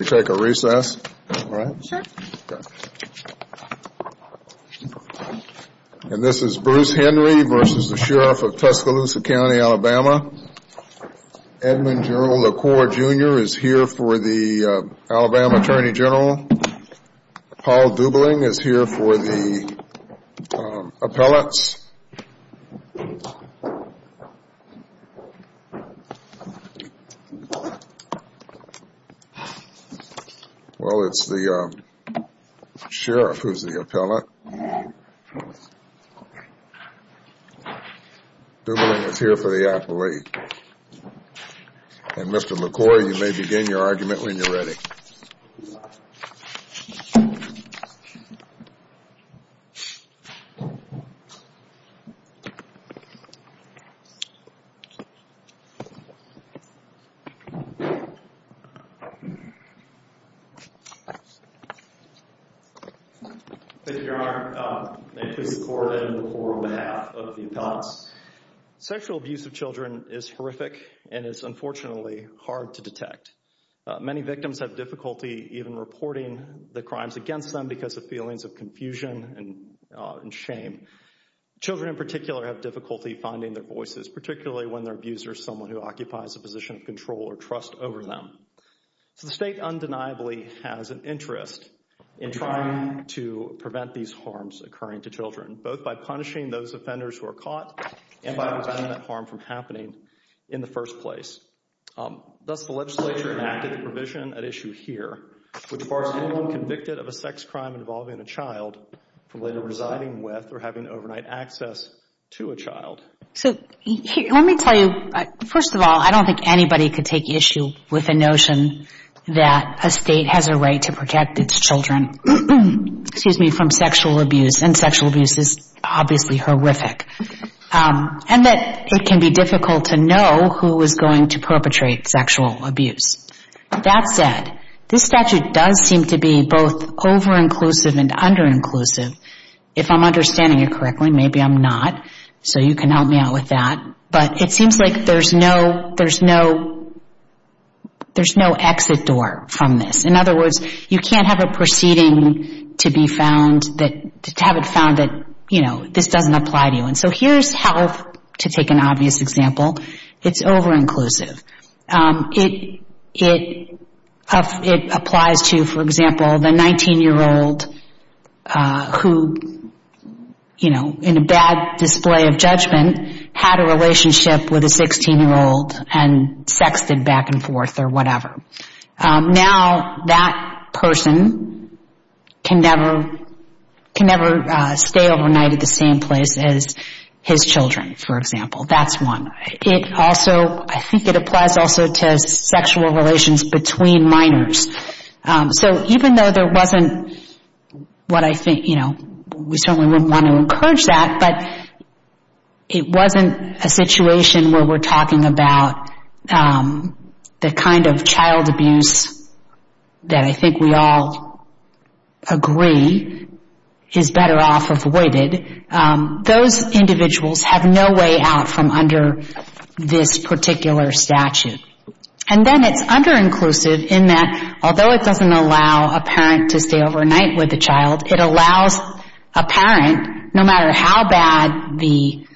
Edmund General LaCour Jr. is here for the Alabama Attorney General, Paul Dubling is here for the appellants. Well, it's the sheriff who's the appellant. Dubling is here for the And Mr. LaCour, you may begin your argument when you're ready. Thank you, Your Honor. May it please the court, Edmund LaCour on behalf of the appellants. Sexual abuse of children is horrific and is unfortunately hard to detect. Many victims have difficulty even reporting the crimes against them because of feelings of confusion and shame. Children in particular have difficulty finding their voices, particularly when their abuser is someone who occupies a position of control or trust over them. So the state undeniably has an interest in trying to prevent these harms occurring to children, both by punishing those offenders who are caught and by preventing that harm from happening in the first place. Thus, the legislature enacted the provision at issue here, which bars anyone convicted of a sex crime involving a child from later residing with or having overnight access to a child. Let me tell you, first of all, I don't think anybody could take issue with the notion that a state has a right to protect its children from sexual abuse, and sexual abuse is obviously horrific, and that it can be difficult to know who is going to perpetrate sexual abuse. That said, this statute does seem to be both over-inclusive and under-inclusive, if I'm understanding it correctly. Maybe I'm not, so you can help me out with that. But it seems like there's no exit door from this. In other words, you can't have a proceeding to be found that, to have it found that, you know, this doesn't apply to you. And so here's health, to take an obvious example. It's over-inclusive. It applies to, for example, the 19-year-old who, you know, in a bad display of judgment, had a relationship with a 16-year-old and sexted back and forth or whatever. Now that person can never stay overnight at the same place as his children, for example. That's one. It also, I think it applies also to sexual relations between minors. So even though there wasn't what I think, you know, we certainly wouldn't want to encourage that, but it wasn't a situation where we're talking about the kind of child abuse that I think we all agree is better off avoided. Those individuals have no way out from under this particular statute. And then it's under-inclusive in that, although it doesn't allow a parent to stay overnight with a child, it allows a parent, no matter how bad the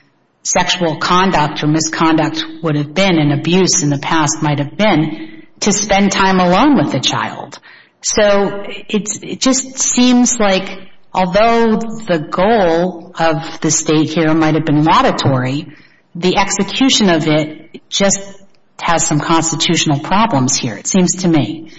sexual conduct or misconduct would have been and abuse in the past might have been, to spend time alone with the child. So it just seems like, although the goal of the state here might have been laudatory, the execution of it just has some constitutional problems here, it seems to me.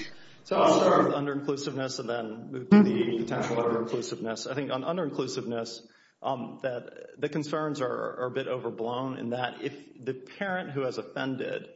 So I'll start with under-inclusiveness and then move to the potential over-inclusiveness. I think under-inclusiveness, the concerns are a bit overblown in that if the parent who has offended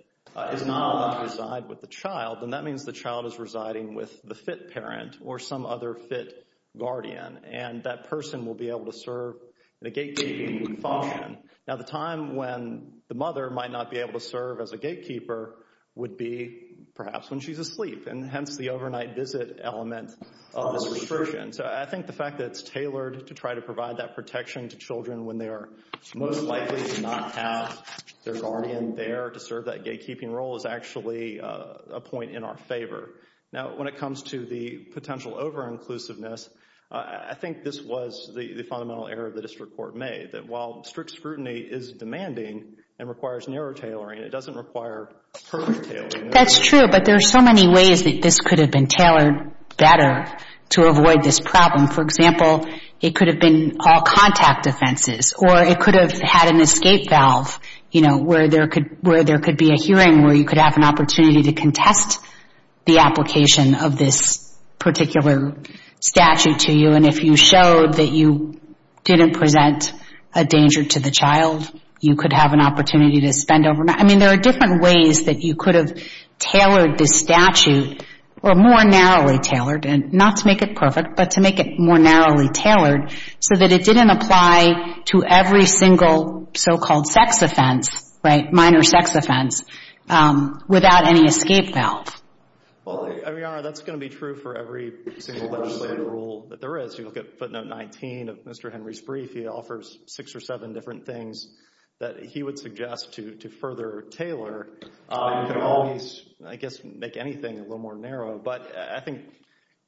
is not allowed to reside with the child, then that means the child is residing with the fit parent or some other fit guardian. And that person will be able to serve in a gatekeeping function. Now the time when the mother might not be able to serve as a gatekeeper would be perhaps when she's asleep, and hence the overnight visit element of this restriction. So I think the fact that it's tailored to try to provide that protection to children when they are most likely to not have their guardian there to serve that gatekeeping role is actually a point in our favor. Now when it comes to the potential over-inclusiveness, I think this was the fundamental error of the district court made, that while strict scrutiny is demanding and requires narrow tailoring, it doesn't require perfect tailoring. That's true, but there are so many ways that this could have been tailored better to avoid this problem. For example, it could have been all contact offenses, or it could have had an escape valve where there could be a hearing where you could have an opportunity to contest the application of this particular statute to you. And if you showed that you didn't present a danger to the child, you could have an opportunity to spend overnight. I mean, there are different ways that you could have tailored this statute, or more narrowly tailored, and not to make it perfect, but to make it more narrowly tailored, so that it didn't apply to every single so-called sex offense, right, minor sex offense, without any escape valve. Well, Your Honor, that's going to be true for every single legislative rule that there is. If you look at footnote 19 of Mr. Henry's brief, he offers six or seven different things that he would suggest to further tailor. You could always, I guess, make anything a little more narrow, but I think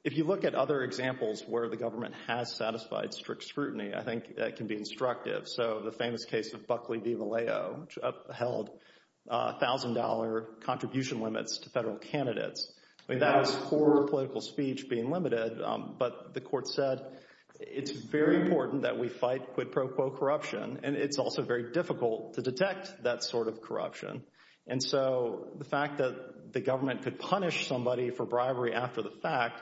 if you look at other examples where the government has satisfied strict scrutiny, I think that can be instructive. So, the famous case of Buckley v. Vallejo, which upheld $1,000 contribution limits to federal candidates. I mean, that was for political speech being limited, but the court said, it's very important that we fight quid pro quo corruption, and it's also very difficult to detect that sort of corruption. And so, the fact that the government could punish somebody for bribery after the fact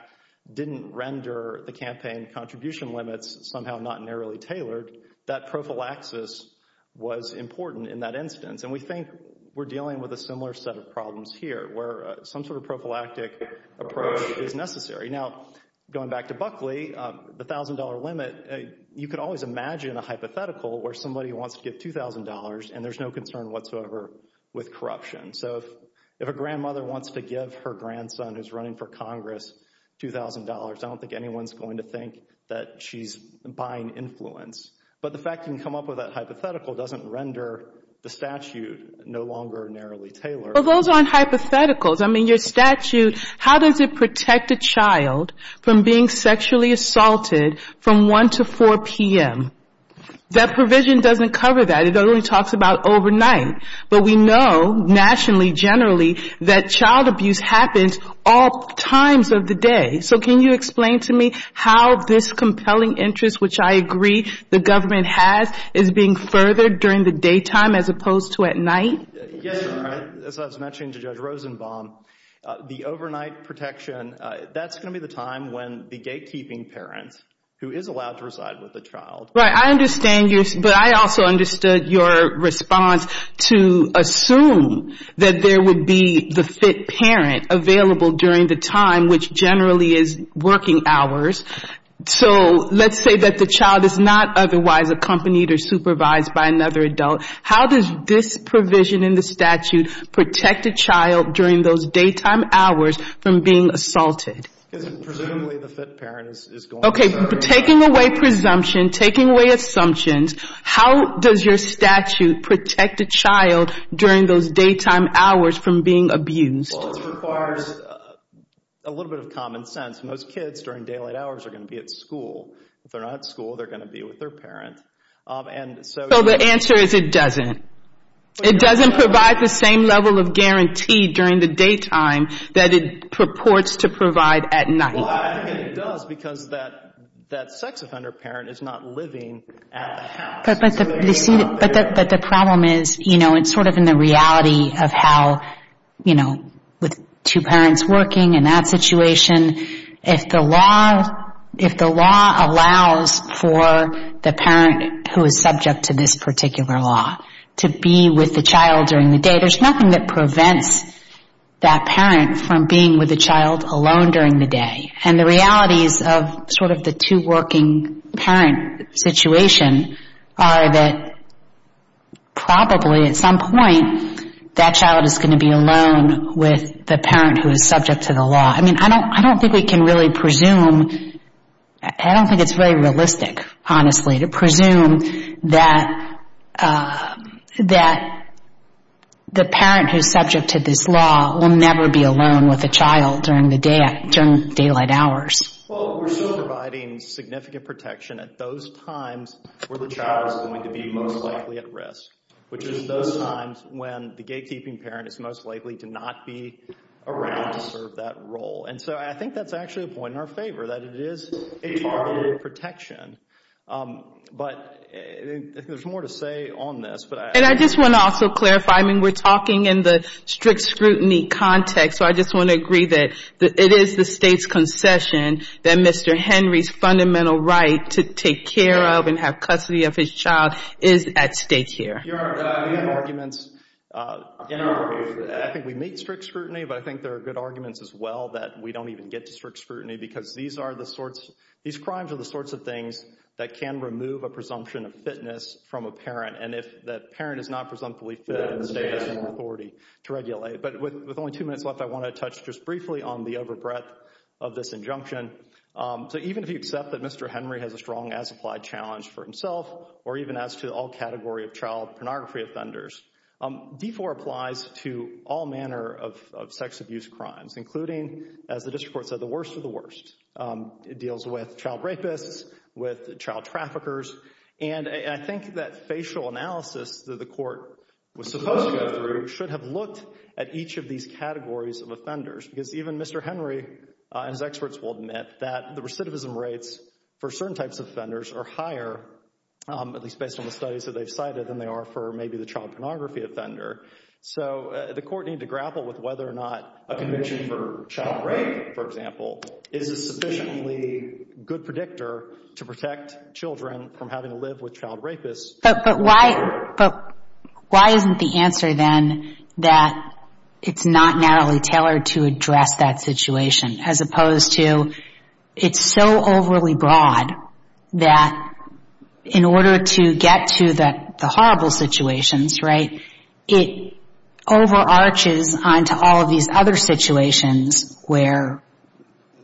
didn't render the campaign contribution limits somehow not narrowly tailored. That prophylaxis was important in that instance, and we think we're dealing with a similar set of problems here, where some sort of prophylactic approach is necessary. Now, going back to Buckley, the $1,000 limit, you could always imagine a hypothetical where somebody wants to give $2,000 and there's no concern whatsoever with corruption. So, if a grandmother wants to give her grandson who's running for Congress $2,000, I don't think anyone's going to think that she's buying influence. But the fact you can come up with that hypothetical doesn't render the statute no longer narrowly tailored. is being furthered during the daytime as opposed to at night? Yes, Your Honor. As I was mentioning to Judge Rosenbaum, the overnight protection, that's going to be the time when the gatekeeping parent who is allowed to reside with the child Right. I understand yours, but I also understood your response to assume that there would be the fit parent available during the time, which generally is working hours. So, let's say that the child is not otherwise accompanied or supervised by another adult. How does this provision in the statute protect a child during those daytime hours from being assaulted? Presumably, the fit parent is going to serve. Okay. Taking away presumption, taking away assumptions, how does your statute protect a child during those daytime hours from being abused? Well, this requires a little bit of common sense. Most kids during daylight hours are going to be at school. If they're not at school, they're going to be with their parent. So, the answer is it doesn't. It doesn't provide the same level of guarantee during the daytime that it purports to provide at night. Well, I think it does because that sex offender parent is not living at the house. But the problem is, you know, it's sort of in the reality of how, you know, with two parents working in that situation, if the law allows for the parent who is subject to this particular law to be with the child during the day, are that probably at some point that child is going to be alone with the parent who is subject to the law. I mean, I don't think we can really presume. I don't think it's very realistic, honestly, to presume that the parent who is subject to this law will never be alone with a child during daylight hours. Well, we're still providing significant protection at those times where the child is going to be most likely at risk, which is those times when the gatekeeping parent is most likely to not be around to serve that role. And so, I think that's actually a point in our favor, that it is a targeted protection. But there's more to say on this. And I just want to also clarify, I mean, we're talking in the strict scrutiny context, so I just want to agree that it is the State's concession that Mr. Henry's fundamental right to take care of and have custody of his child is at stake here. We have arguments. I think we meet strict scrutiny, but I think there are good arguments as well that we don't even get to strict scrutiny because these crimes are the sorts of things that can remove a presumption of fitness from a parent. And if that parent is not presumptively fit, the State has some authority to regulate. But with only two minutes left, I want to touch just briefly on the over breadth of this injunction. So even if you accept that Mr. Henry has a strong as applied challenge for himself, or even as to all category of child pornography offenders, D4 applies to all manner of sex abuse crimes, including, as the district court said, the worst of the worst. It deals with child rapists, with child traffickers. And I think that facial analysis that the court was supposed to go through should have looked at each of these categories of offenders, because even Mr. Henry and his experts will admit that the recidivism rates for certain types of offenders are higher, at least based on the studies that they've cited, than they are for maybe the child pornography offender. So the court need to grapple with whether or not a conviction for child rape, for example, is a sufficiently good predictor to protect children from having to live with child rapists. But why isn't the answer then that it's not narrowly tailored to address that situation, as opposed to it's so overly broad that in order to get to the horrible situations, right, it over arches onto all of these other situations where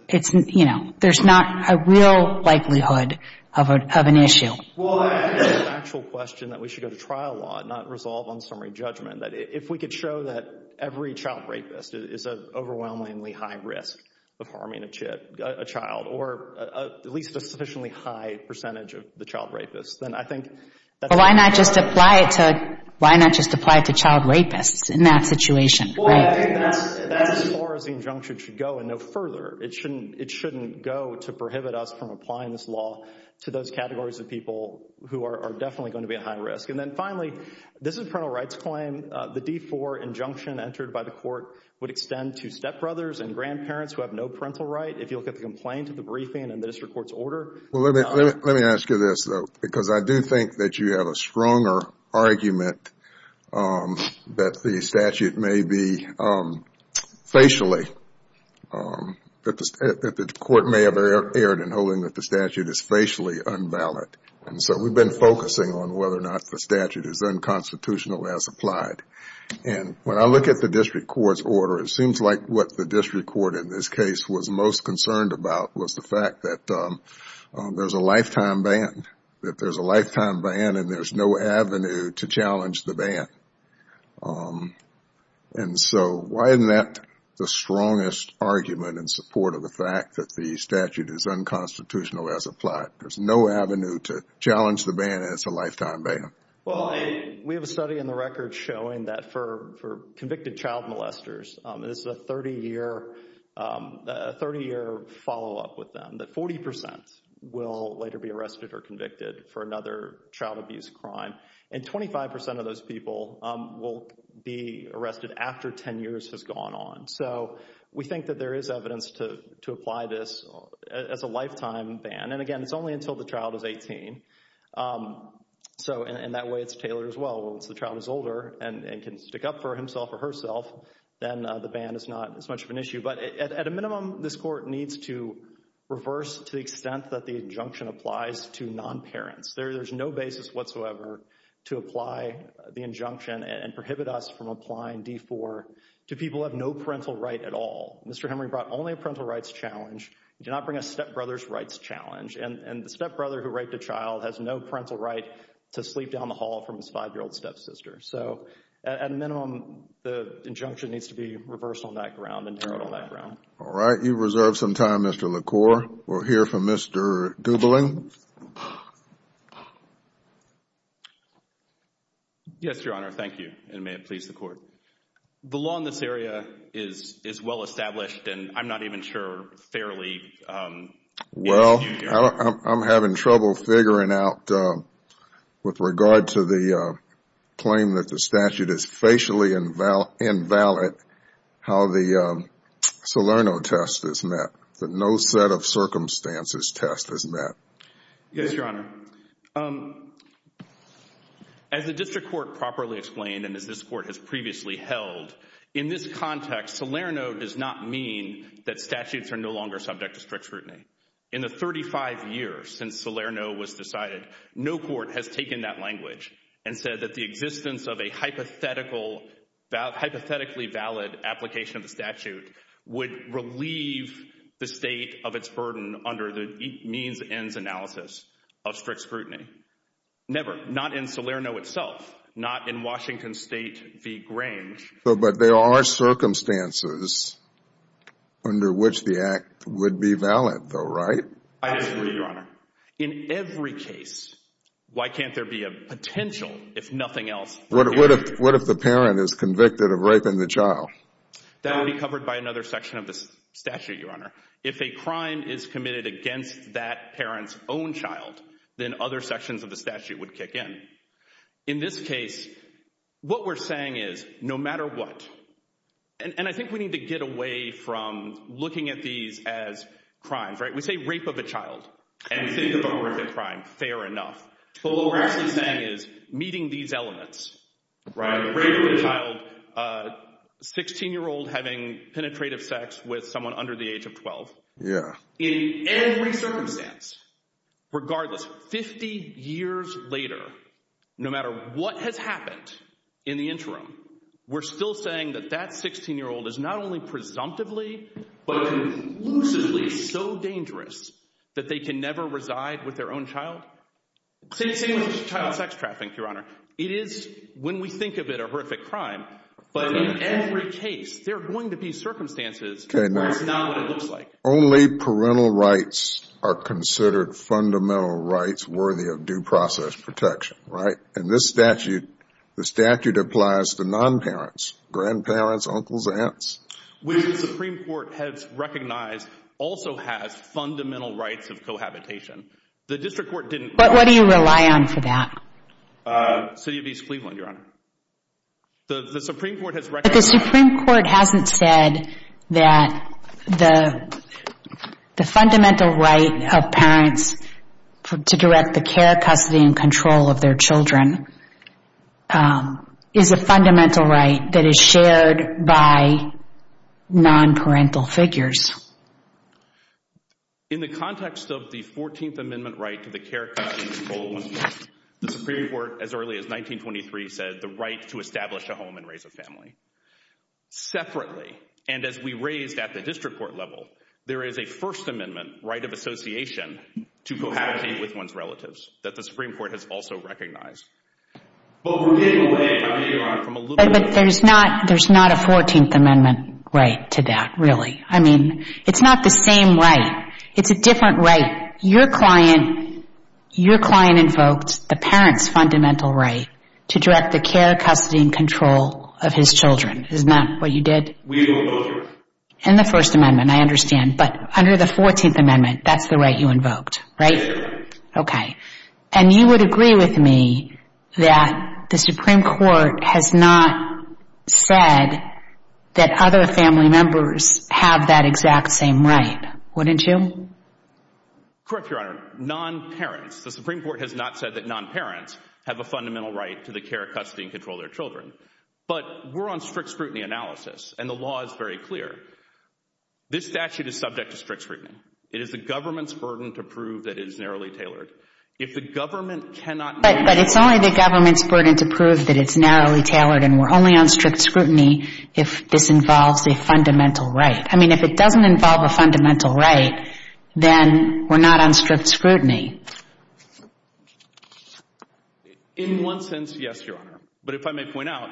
it's, you know, there's not a real likelihood of an issue. Well, I think it's an actual question that we should go to trial law and not resolve on summary judgment. That if we could show that every child rapist is an overwhelmingly high risk of harming a child, or at least a sufficiently high percentage of the child rapists, then I think that's a good answer. But why not just apply it to child rapists in that situation, right? I think that's as far as the injunction should go and no further. It shouldn't go to prohibit us from applying this law to those categories of people who are definitely going to be at high risk. And then finally, this is a parental rights claim. The D4 injunction entered by the court would extend to stepbrothers and grandparents who have no parental right. If you look at the complaint of the briefing and the district court's order. Let me ask you this, though, because I do think that you have a stronger argument that the statute may be facially, that the court may have erred in holding that the statute is facially unvalid. And so we've been focusing on whether or not the statute is unconstitutional as applied. And when I look at the district court's order, it seems like what the district court in this case was most concerned about was the fact that there's a lifetime ban. That there's a lifetime ban and there's no avenue to challenge the ban. And so why isn't that the strongest argument in support of the fact that the statute is unconstitutional as applied? There's no avenue to challenge the ban and it's a lifetime ban. Well, we have a study in the record showing that for convicted child molesters, this is a 30 year follow up with them, that 40 percent will later be arrested or convicted for another child abuse crime and 25 percent of those people will be arrested after 10 years has gone on. So we think that there is evidence to apply this as a lifetime ban. And again, it's only until the child is 18. So in that way, it's tailored as well. Once the child is older and can stick up for himself or herself, then the ban is not as much of an issue. But at a minimum, this court needs to reverse to the extent that the injunction applies to non-parents. There's no basis whatsoever to apply the injunction and prohibit us from applying D4 to people who have no parental right at all. Mr. Henry brought only a parental rights challenge. He did not bring a stepbrother's rights challenge. And the stepbrother who raped a child has no parental right to sleep down the hall from his five year old stepsister. So at a minimum, the injunction needs to be reversed on that ground and tailored on that ground. All right. You've reserved some time, Mr. LaCour. We'll hear from Mr. Gubling. Yes, Your Honor. Thank you. And may it please the court. The law in this area is well established and I'm not even sure fairly. Well, I'm having trouble figuring out with regard to the claim that the statute is facially invalid, how the Salerno test is met, that no set of circumstances test is met. Yes, Your Honor. As the district court properly explained and as this court has previously held, in this context, Salerno does not mean that statutes are no longer subject to strict scrutiny. In the 35 years since Salerno was decided, no court has taken that language and said that the existence of a hypothetically valid application of the statute would relieve the state of its burden under the means ends analysis of strict scrutiny. Never. Not in Salerno itself. Not in Washington State v. Grange. But there are circumstances under which the act would be valid though, right? I disagree, Your Honor. In every case, why can't there be a potential if nothing else? What if the parent is convicted of raping the child? That would be covered by another section of the statute, Your Honor. If a crime is committed against that parent's own child, then other sections of the statute would kick in. In this case, what we're saying is, no matter what, and I think we need to get away from looking at these as crimes, right? And think of a horrific crime, fair enough. But what we're actually saying is, meeting these elements, right? Rape of a child, 16-year-old having penetrative sex with someone under the age of 12. In every circumstance, regardless, 50 years later, no matter what has happened in the interim, we're still saying that that 16-year-old is not only presumptively, but conclusively so dangerous that they can never reside with their own child. Same with child sex trafficking, Your Honor. It is, when we think of it, a horrific crime. But in every case, there are going to be circumstances where it's not what it looks like. Only parental rights are considered fundamental rights worthy of due process protection, right? In this statute, the statute applies to non-parents, grandparents, uncles, aunts. Which the Supreme Court has recognized also has fundamental rights of cohabitation. But what do you rely on for that? City of East Cleveland, Your Honor. But the Supreme Court hasn't said that the fundamental right of parents to direct the care, custody, and control of their children is a fundamental right that is shared by non-parental figures. In the context of the 14th Amendment right to the care, custody, and control of one's parents, the Supreme Court, as early as 1923, said the right to establish a home and raise a family. Separately, and as we raised at the district court level, there is a First Amendment right of association to cohabitate with one's relatives that the Supreme Court has also recognized. But there's not a 14th Amendment right to that, really. I mean, it's not the same right. It's a different right. Your client invoked the parent's fundamental right to direct the care, custody, and control of his children. Isn't that what you did? We do it both ways. In the First Amendment, I understand. But under the 14th Amendment, that's the right you invoked, right? Yes, Your Honor. Okay. And you would agree with me that the Supreme Court has not said that other family members have that exact same right, wouldn't you? Correct, Your Honor. Non-parents. The Supreme Court has not said that non-parents have a fundamental right to the care, custody, and control of their children. But we're on strict scrutiny analysis, and the law is very clear. This statute is subject to strict scrutiny. It is the government's burden to prove that it is narrowly tailored. If the government cannot narrowly — But it's only the government's burden to prove that it's narrowly tailored, and we're only on strict scrutiny if this involves a fundamental right. I mean, if it doesn't involve a fundamental right, then we're not on strict scrutiny. In one sense, yes, Your Honor. But if I may point out,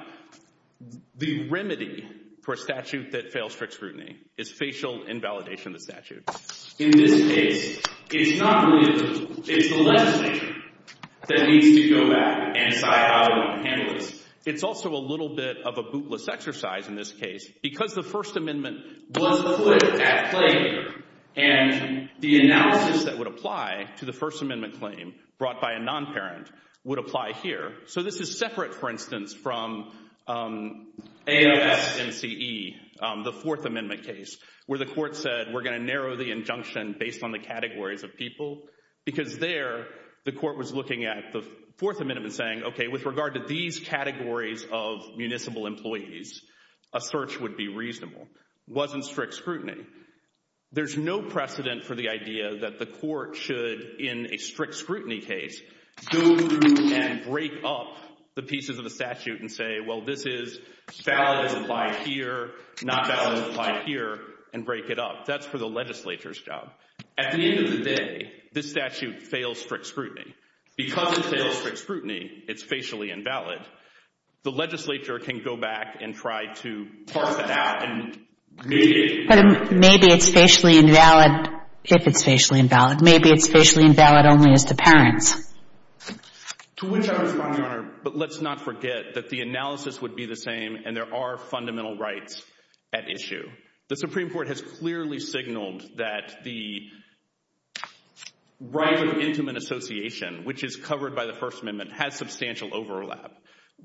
the remedy for a statute that fails strict scrutiny is facial invalidation of the statute. In this case, it's not really the statute. It's the legislature that needs to go back and decide how to handle this. It's also a little bit of a bootless exercise in this case because the First Amendment was put at play here. And the analysis that would apply to the First Amendment claim brought by a non-parent would apply here. So this is separate, for instance, from ASMCE, the Fourth Amendment case, where the court said we're going to narrow the injunction based on the categories of people. Because there, the court was looking at the Fourth Amendment saying, okay, with regard to these categories of municipal employees, a search would be reasonable. It wasn't strict scrutiny. There's no precedent for the idea that the court should, in a strict scrutiny case, go through and break up the pieces of the statute and say, well, this is valid as applied here, not valid as applied here, and break it up. That's for the legislature's job. At the end of the day, this statute fails strict scrutiny. Because it fails strict scrutiny, it's facially invalid. The legislature can go back and try to parse it out and maybe it's invalid. But maybe it's facially invalid if it's facially invalid. Maybe it's facially invalid only as to parents. To which I respond, Your Honor, but let's not forget that the analysis would be the same and there are fundamental rights at issue. The Supreme Court has clearly signaled that the right of intimate association, which is covered by the First Amendment, has substantial overlap.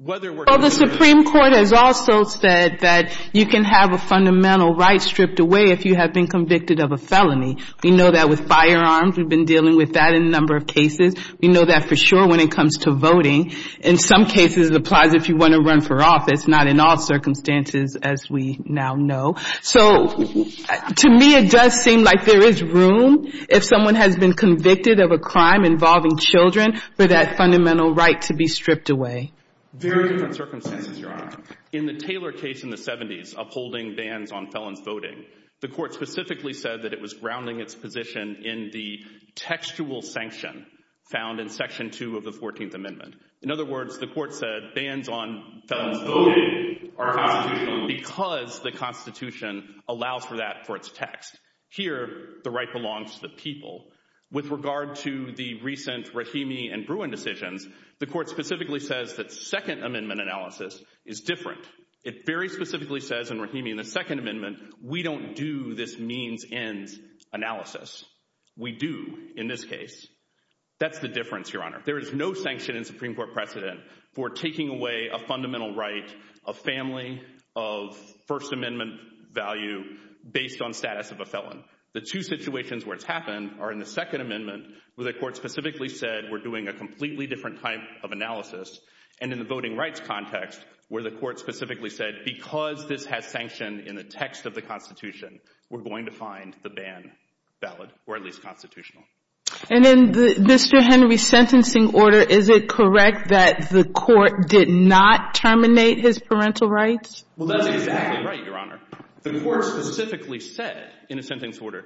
The Supreme Court has also said that you can have a fundamental right stripped away if you have been convicted of a felony. We know that with firearms. We've been dealing with that in a number of cases. We know that for sure when it comes to voting. In some cases, it applies if you want to run for office, not in all circumstances as we now know. So to me, it does seem like there is room if someone has been convicted of a crime involving children for that fundamental right to be stripped away. Very different circumstances, Your Honor. In the Taylor case in the 70s upholding bans on felons voting, the court specifically said that it was grounding its position in the textual sanction found in Section 2 of the 14th Amendment. In other words, the court said bans on felons voting are constitutional because the Constitution allows for that for its text. Here, the right belongs to the people. With regard to the recent Rahimi and Bruin decisions, the court specifically says that Second Amendment analysis is different. It very specifically says in Rahimi and the Second Amendment, we don't do this means-ends analysis. We do in this case. That's the difference, Your Honor. There is no sanction in Supreme Court precedent for taking away a fundamental right, a family of First Amendment value based on status of a felon. The two situations where it's happened are in the Second Amendment where the court specifically said we're doing a completely different type of analysis. And in the voting rights context where the court specifically said because this has sanctioned in the text of the Constitution, we're going to find the ban valid or at least constitutional. And in Mr. Henry's sentencing order, is it correct that the court did not terminate his parental rights? Well, that's exactly right, Your Honor. The court specifically said in a sentencing order,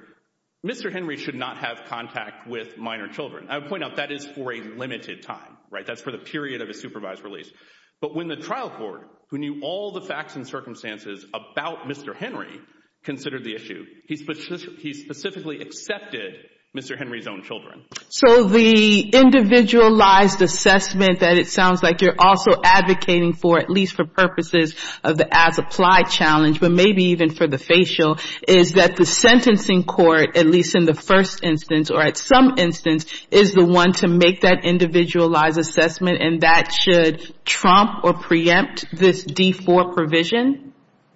Mr. Henry should not have contact with minor children. I would point out that is for a limited time, right? That's for the period of a supervised release. But when the trial court, who knew all the facts and circumstances about Mr. Henry, considered the issue, he specifically accepted Mr. Henry's own children. So the individualized assessment that it sounds like you're also advocating for, at least for purposes of the as-applied challenge, but maybe even for the facial, is that the sentencing court, at least in the first instance or at some instance, is the one to make that individualized assessment and that should trump or preempt this D4 provision?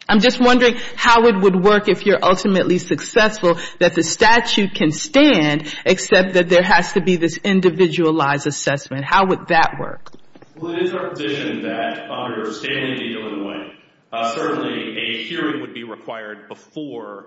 I'm just wondering how it would work if you're ultimately successful that the statute can stand except that there has to be this individualized assessment. How would that work? Well, it is our position that under a standing deal in Wayne, certainly a hearing would be required before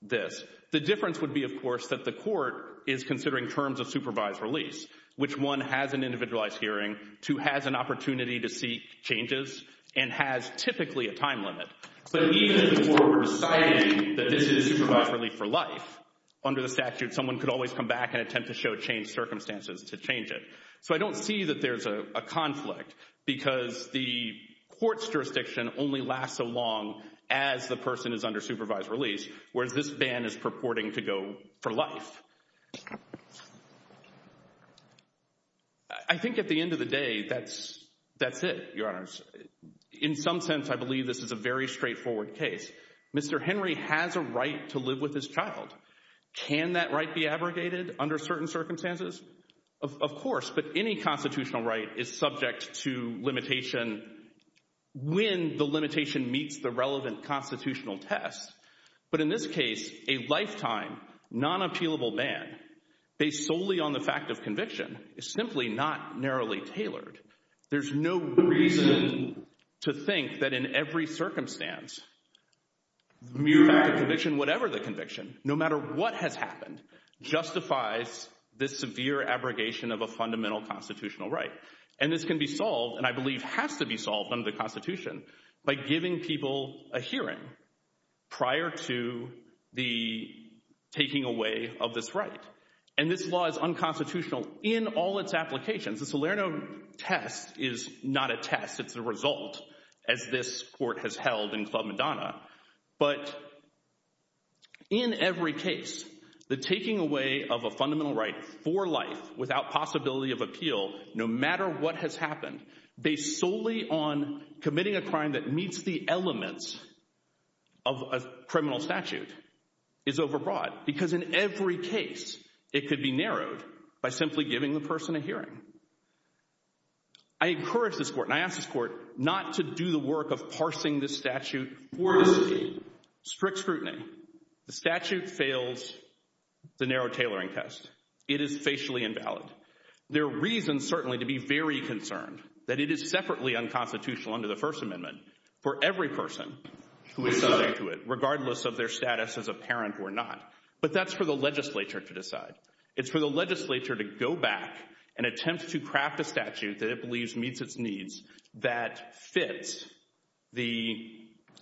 this. The difference would be, of course, that the court is considering terms of supervised release, which one has an individualized hearing, two has an opportunity to seek changes, and has typically a time limit. But even if the court were deciding that this is supervised relief for life, under the statute, someone could always come back and attempt to show changed circumstances to change it. So I don't see that there's a conflict because the court's jurisdiction only lasts so long as the person is under supervised release, whereas this ban is purporting to go for life. I think at the end of the day, that's it, Your Honors. In some sense, I believe this is a very straightforward case. Mr. Henry has a right to live with his child. Can that right be abrogated under certain circumstances? Of course, but any constitutional right is subject to limitation when the limitation meets the relevant constitutional test. But in this case, a lifetime, non-appealable ban based solely on the fact of conviction is simply not narrowly tailored. There's no reason to think that in every circumstance, mere fact of conviction, whatever the conviction, no matter what has happened, justifies this severe abrogation of a fundamental constitutional right. And this can be solved and I believe has to be solved under the Constitution by giving people a hearing prior to the taking away of this right. And this law is unconstitutional in all its applications. The Salerno test is not a test. It's a result, as this court has held in Club Madonna. But in every case, the taking away of a fundamental right for life without possibility of appeal, no matter what has happened, based solely on committing a crime that meets the elements of a criminal statute, is overbroad. Because in every case, it could be narrowed by simply giving the person a hearing. I encourage this court, and I ask this court, not to do the work of parsing this statute for scrutiny. Strict scrutiny. The statute fails the narrow tailoring test. It is facially invalid. There are reasons, certainly, to be very concerned that it is separately unconstitutional under the First Amendment for every person who is subject to it, regardless of their status as a parent or not. But that's for the legislature to decide. It's for the legislature to go back and attempt to craft a statute that it believes meets its needs that fits the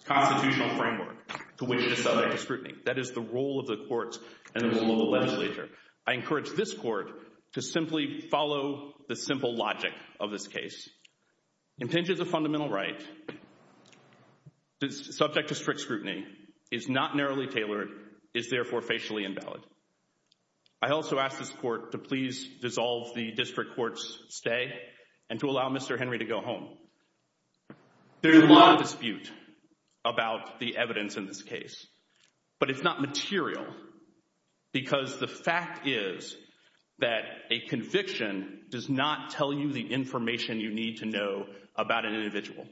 constitutional framework to which it is subject to scrutiny. That is the role of the courts and the role of the legislature. I encourage this court to simply follow the simple logic of this case. Intentions of fundamental right, subject to strict scrutiny, is not narrowly tailored, is therefore facially invalid. I also ask this court to please dissolve the district court's stay and to allow Mr. Henry to go home. There is a lot of dispute about the evidence in this case. But it's not material because the fact is that a conviction does not tell you the information you need to know about an individual.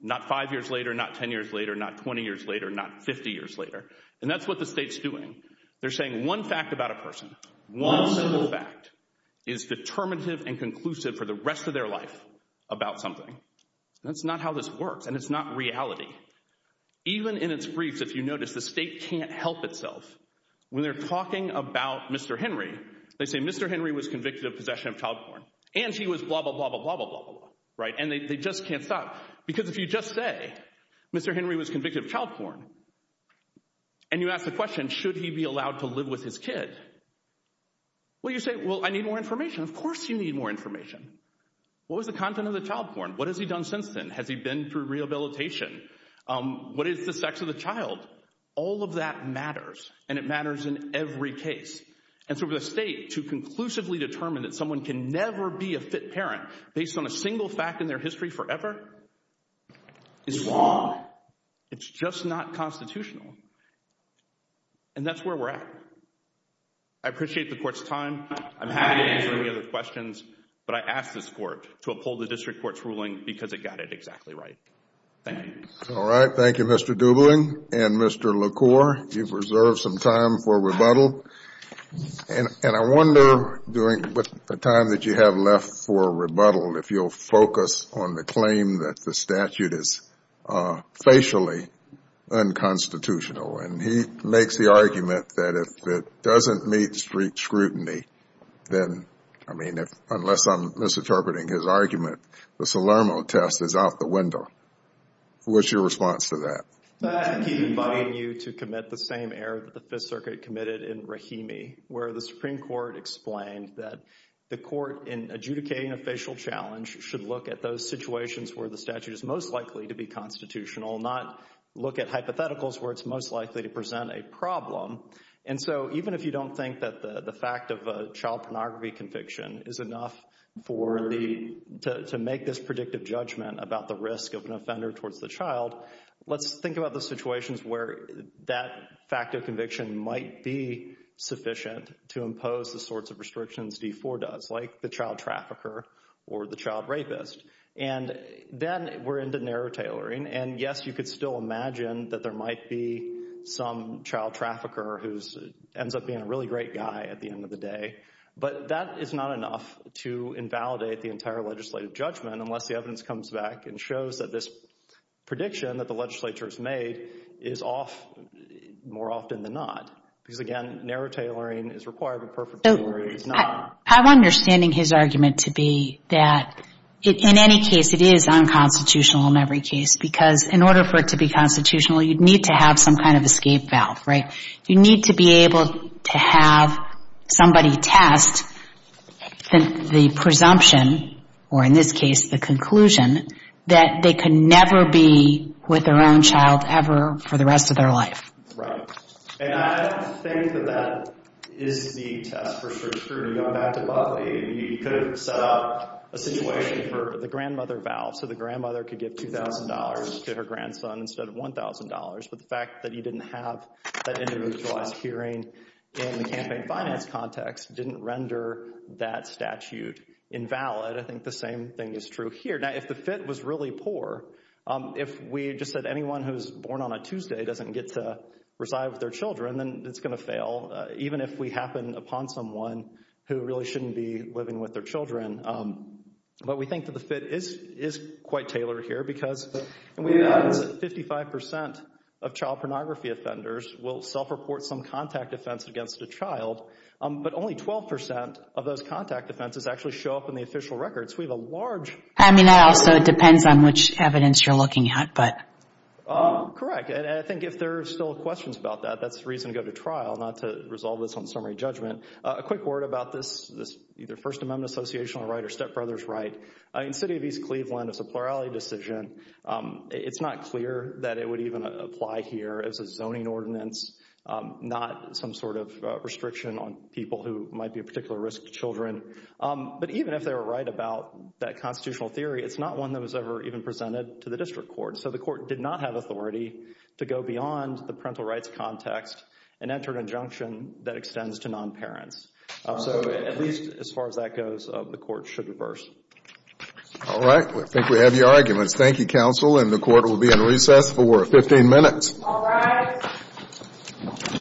Not five years later, not 10 years later, not 20 years later, not 50 years later. And that's what the state's doing. They're saying one fact about a person, one simple fact, is determinative and conclusive for the rest of their life about something. That's not how this works. And it's not reality. Even in its briefs, if you notice, the state can't help itself. When they're talking about Mr. Henry, they say Mr. Henry was convicted of possession of child porn. And he was blah, blah, blah, blah, blah, blah, blah, blah. Right? And they just can't stop. Because if you just say Mr. Henry was convicted of child porn and you ask the question, should he be allowed to live with his kid? Well, you say, well, I need more information. Of course you need more information. What was the content of the child porn? What has he done since then? Has he been through rehabilitation? What is the sex of the child? All of that matters. And it matters in every case. And so for the state to conclusively determine that someone can never be a fit parent based on a single fact in their history forever is wrong. It's just not constitutional. And that's where we're at. I appreciate the court's time. I'm happy to answer any other questions. But I ask this court to uphold the district court's ruling because it got it exactly right. Thank you. All right. Thank you, Mr. Dubling and Mr. LaCour. You've reserved some time for rebuttal. And I wonder during the time that you have left for rebuttal if you'll focus on the claim that the statute is facially unconstitutional. And he makes the argument that if it doesn't meet street scrutiny, then, I mean, unless I'm misinterpreting his argument, the Salermo test is out the window. What's your response to that? I keep inviting you to commit the same error that the Fifth Circuit committed in Rahimi where the Supreme Court explained that the court in adjudicating a facial challenge should look at those situations where the statute is most likely to be constitutional, not look at hypotheticals where it's most likely to present a problem. And so even if you don't think that the fact of a child pornography conviction is enough for the—to make this predictive judgment about the risk of an offender towards the child, let's think about the situations where that fact of conviction might be sufficient to impose the sorts of restrictions D-4 does, like the child trafficker or the child rapist. And then we're into narrow tailoring. And yes, you could still imagine that there might be some child trafficker who ends up being a really great guy at the end of the day. But that is not enough to invalidate the entire legislative judgment unless the evidence comes back and shows that this prediction that the legislature has made is off more often than not. Because, again, narrow tailoring is required, but perfect tailoring is not. I'm understanding his argument to be that in any case it is unconstitutional in every case because in order for it to be constitutional you'd need to have some kind of escape valve, right? You need to be able to have somebody test the presumption, or in this case the conclusion, that they could never be with their own child ever for the rest of their life. Right. And I think that that is the test for strict scrutiny. Going back to Buckley, he could have set up a situation for the grandmother valve so the grandmother could give $2,000 to her grandson instead of $1,000. But the fact that he didn't have that individualized hearing in the campaign finance context didn't render that statute invalid. I think the same thing is true here. Now, if the FIT was really poor, if we just said anyone who is born on a Tuesday doesn't get to reside with their children, then it's going to fail, even if we happen upon someone who really shouldn't be living with their children. But we think that the FIT is quite tailored here because 55% of child pornography offenders will self-report some contact offense against a child, but only 12% of those contact offenses actually show up in the official records. I mean, it also depends on which evidence you're looking at. Correct, and I think if there are still questions about that, that's a reason to go to trial, not to resolve this on summary judgment. A quick word about this either First Amendment association right or stepbrother's right. In the city of East Cleveland, it's a plurality decision. It's not clear that it would even apply here as a zoning ordinance, not some sort of restriction on people who might be a particular risk to children. But even if they were right about that constitutional theory, it's not one that was ever even presented to the district court. So the court did not have authority to go beyond the parental rights context and enter an injunction that extends to non-parents. So at least as far as that goes, the court should reverse. All right, I think we have your arguments. Thank you, counsel, and the court will be in recess for 15 minutes. All rise.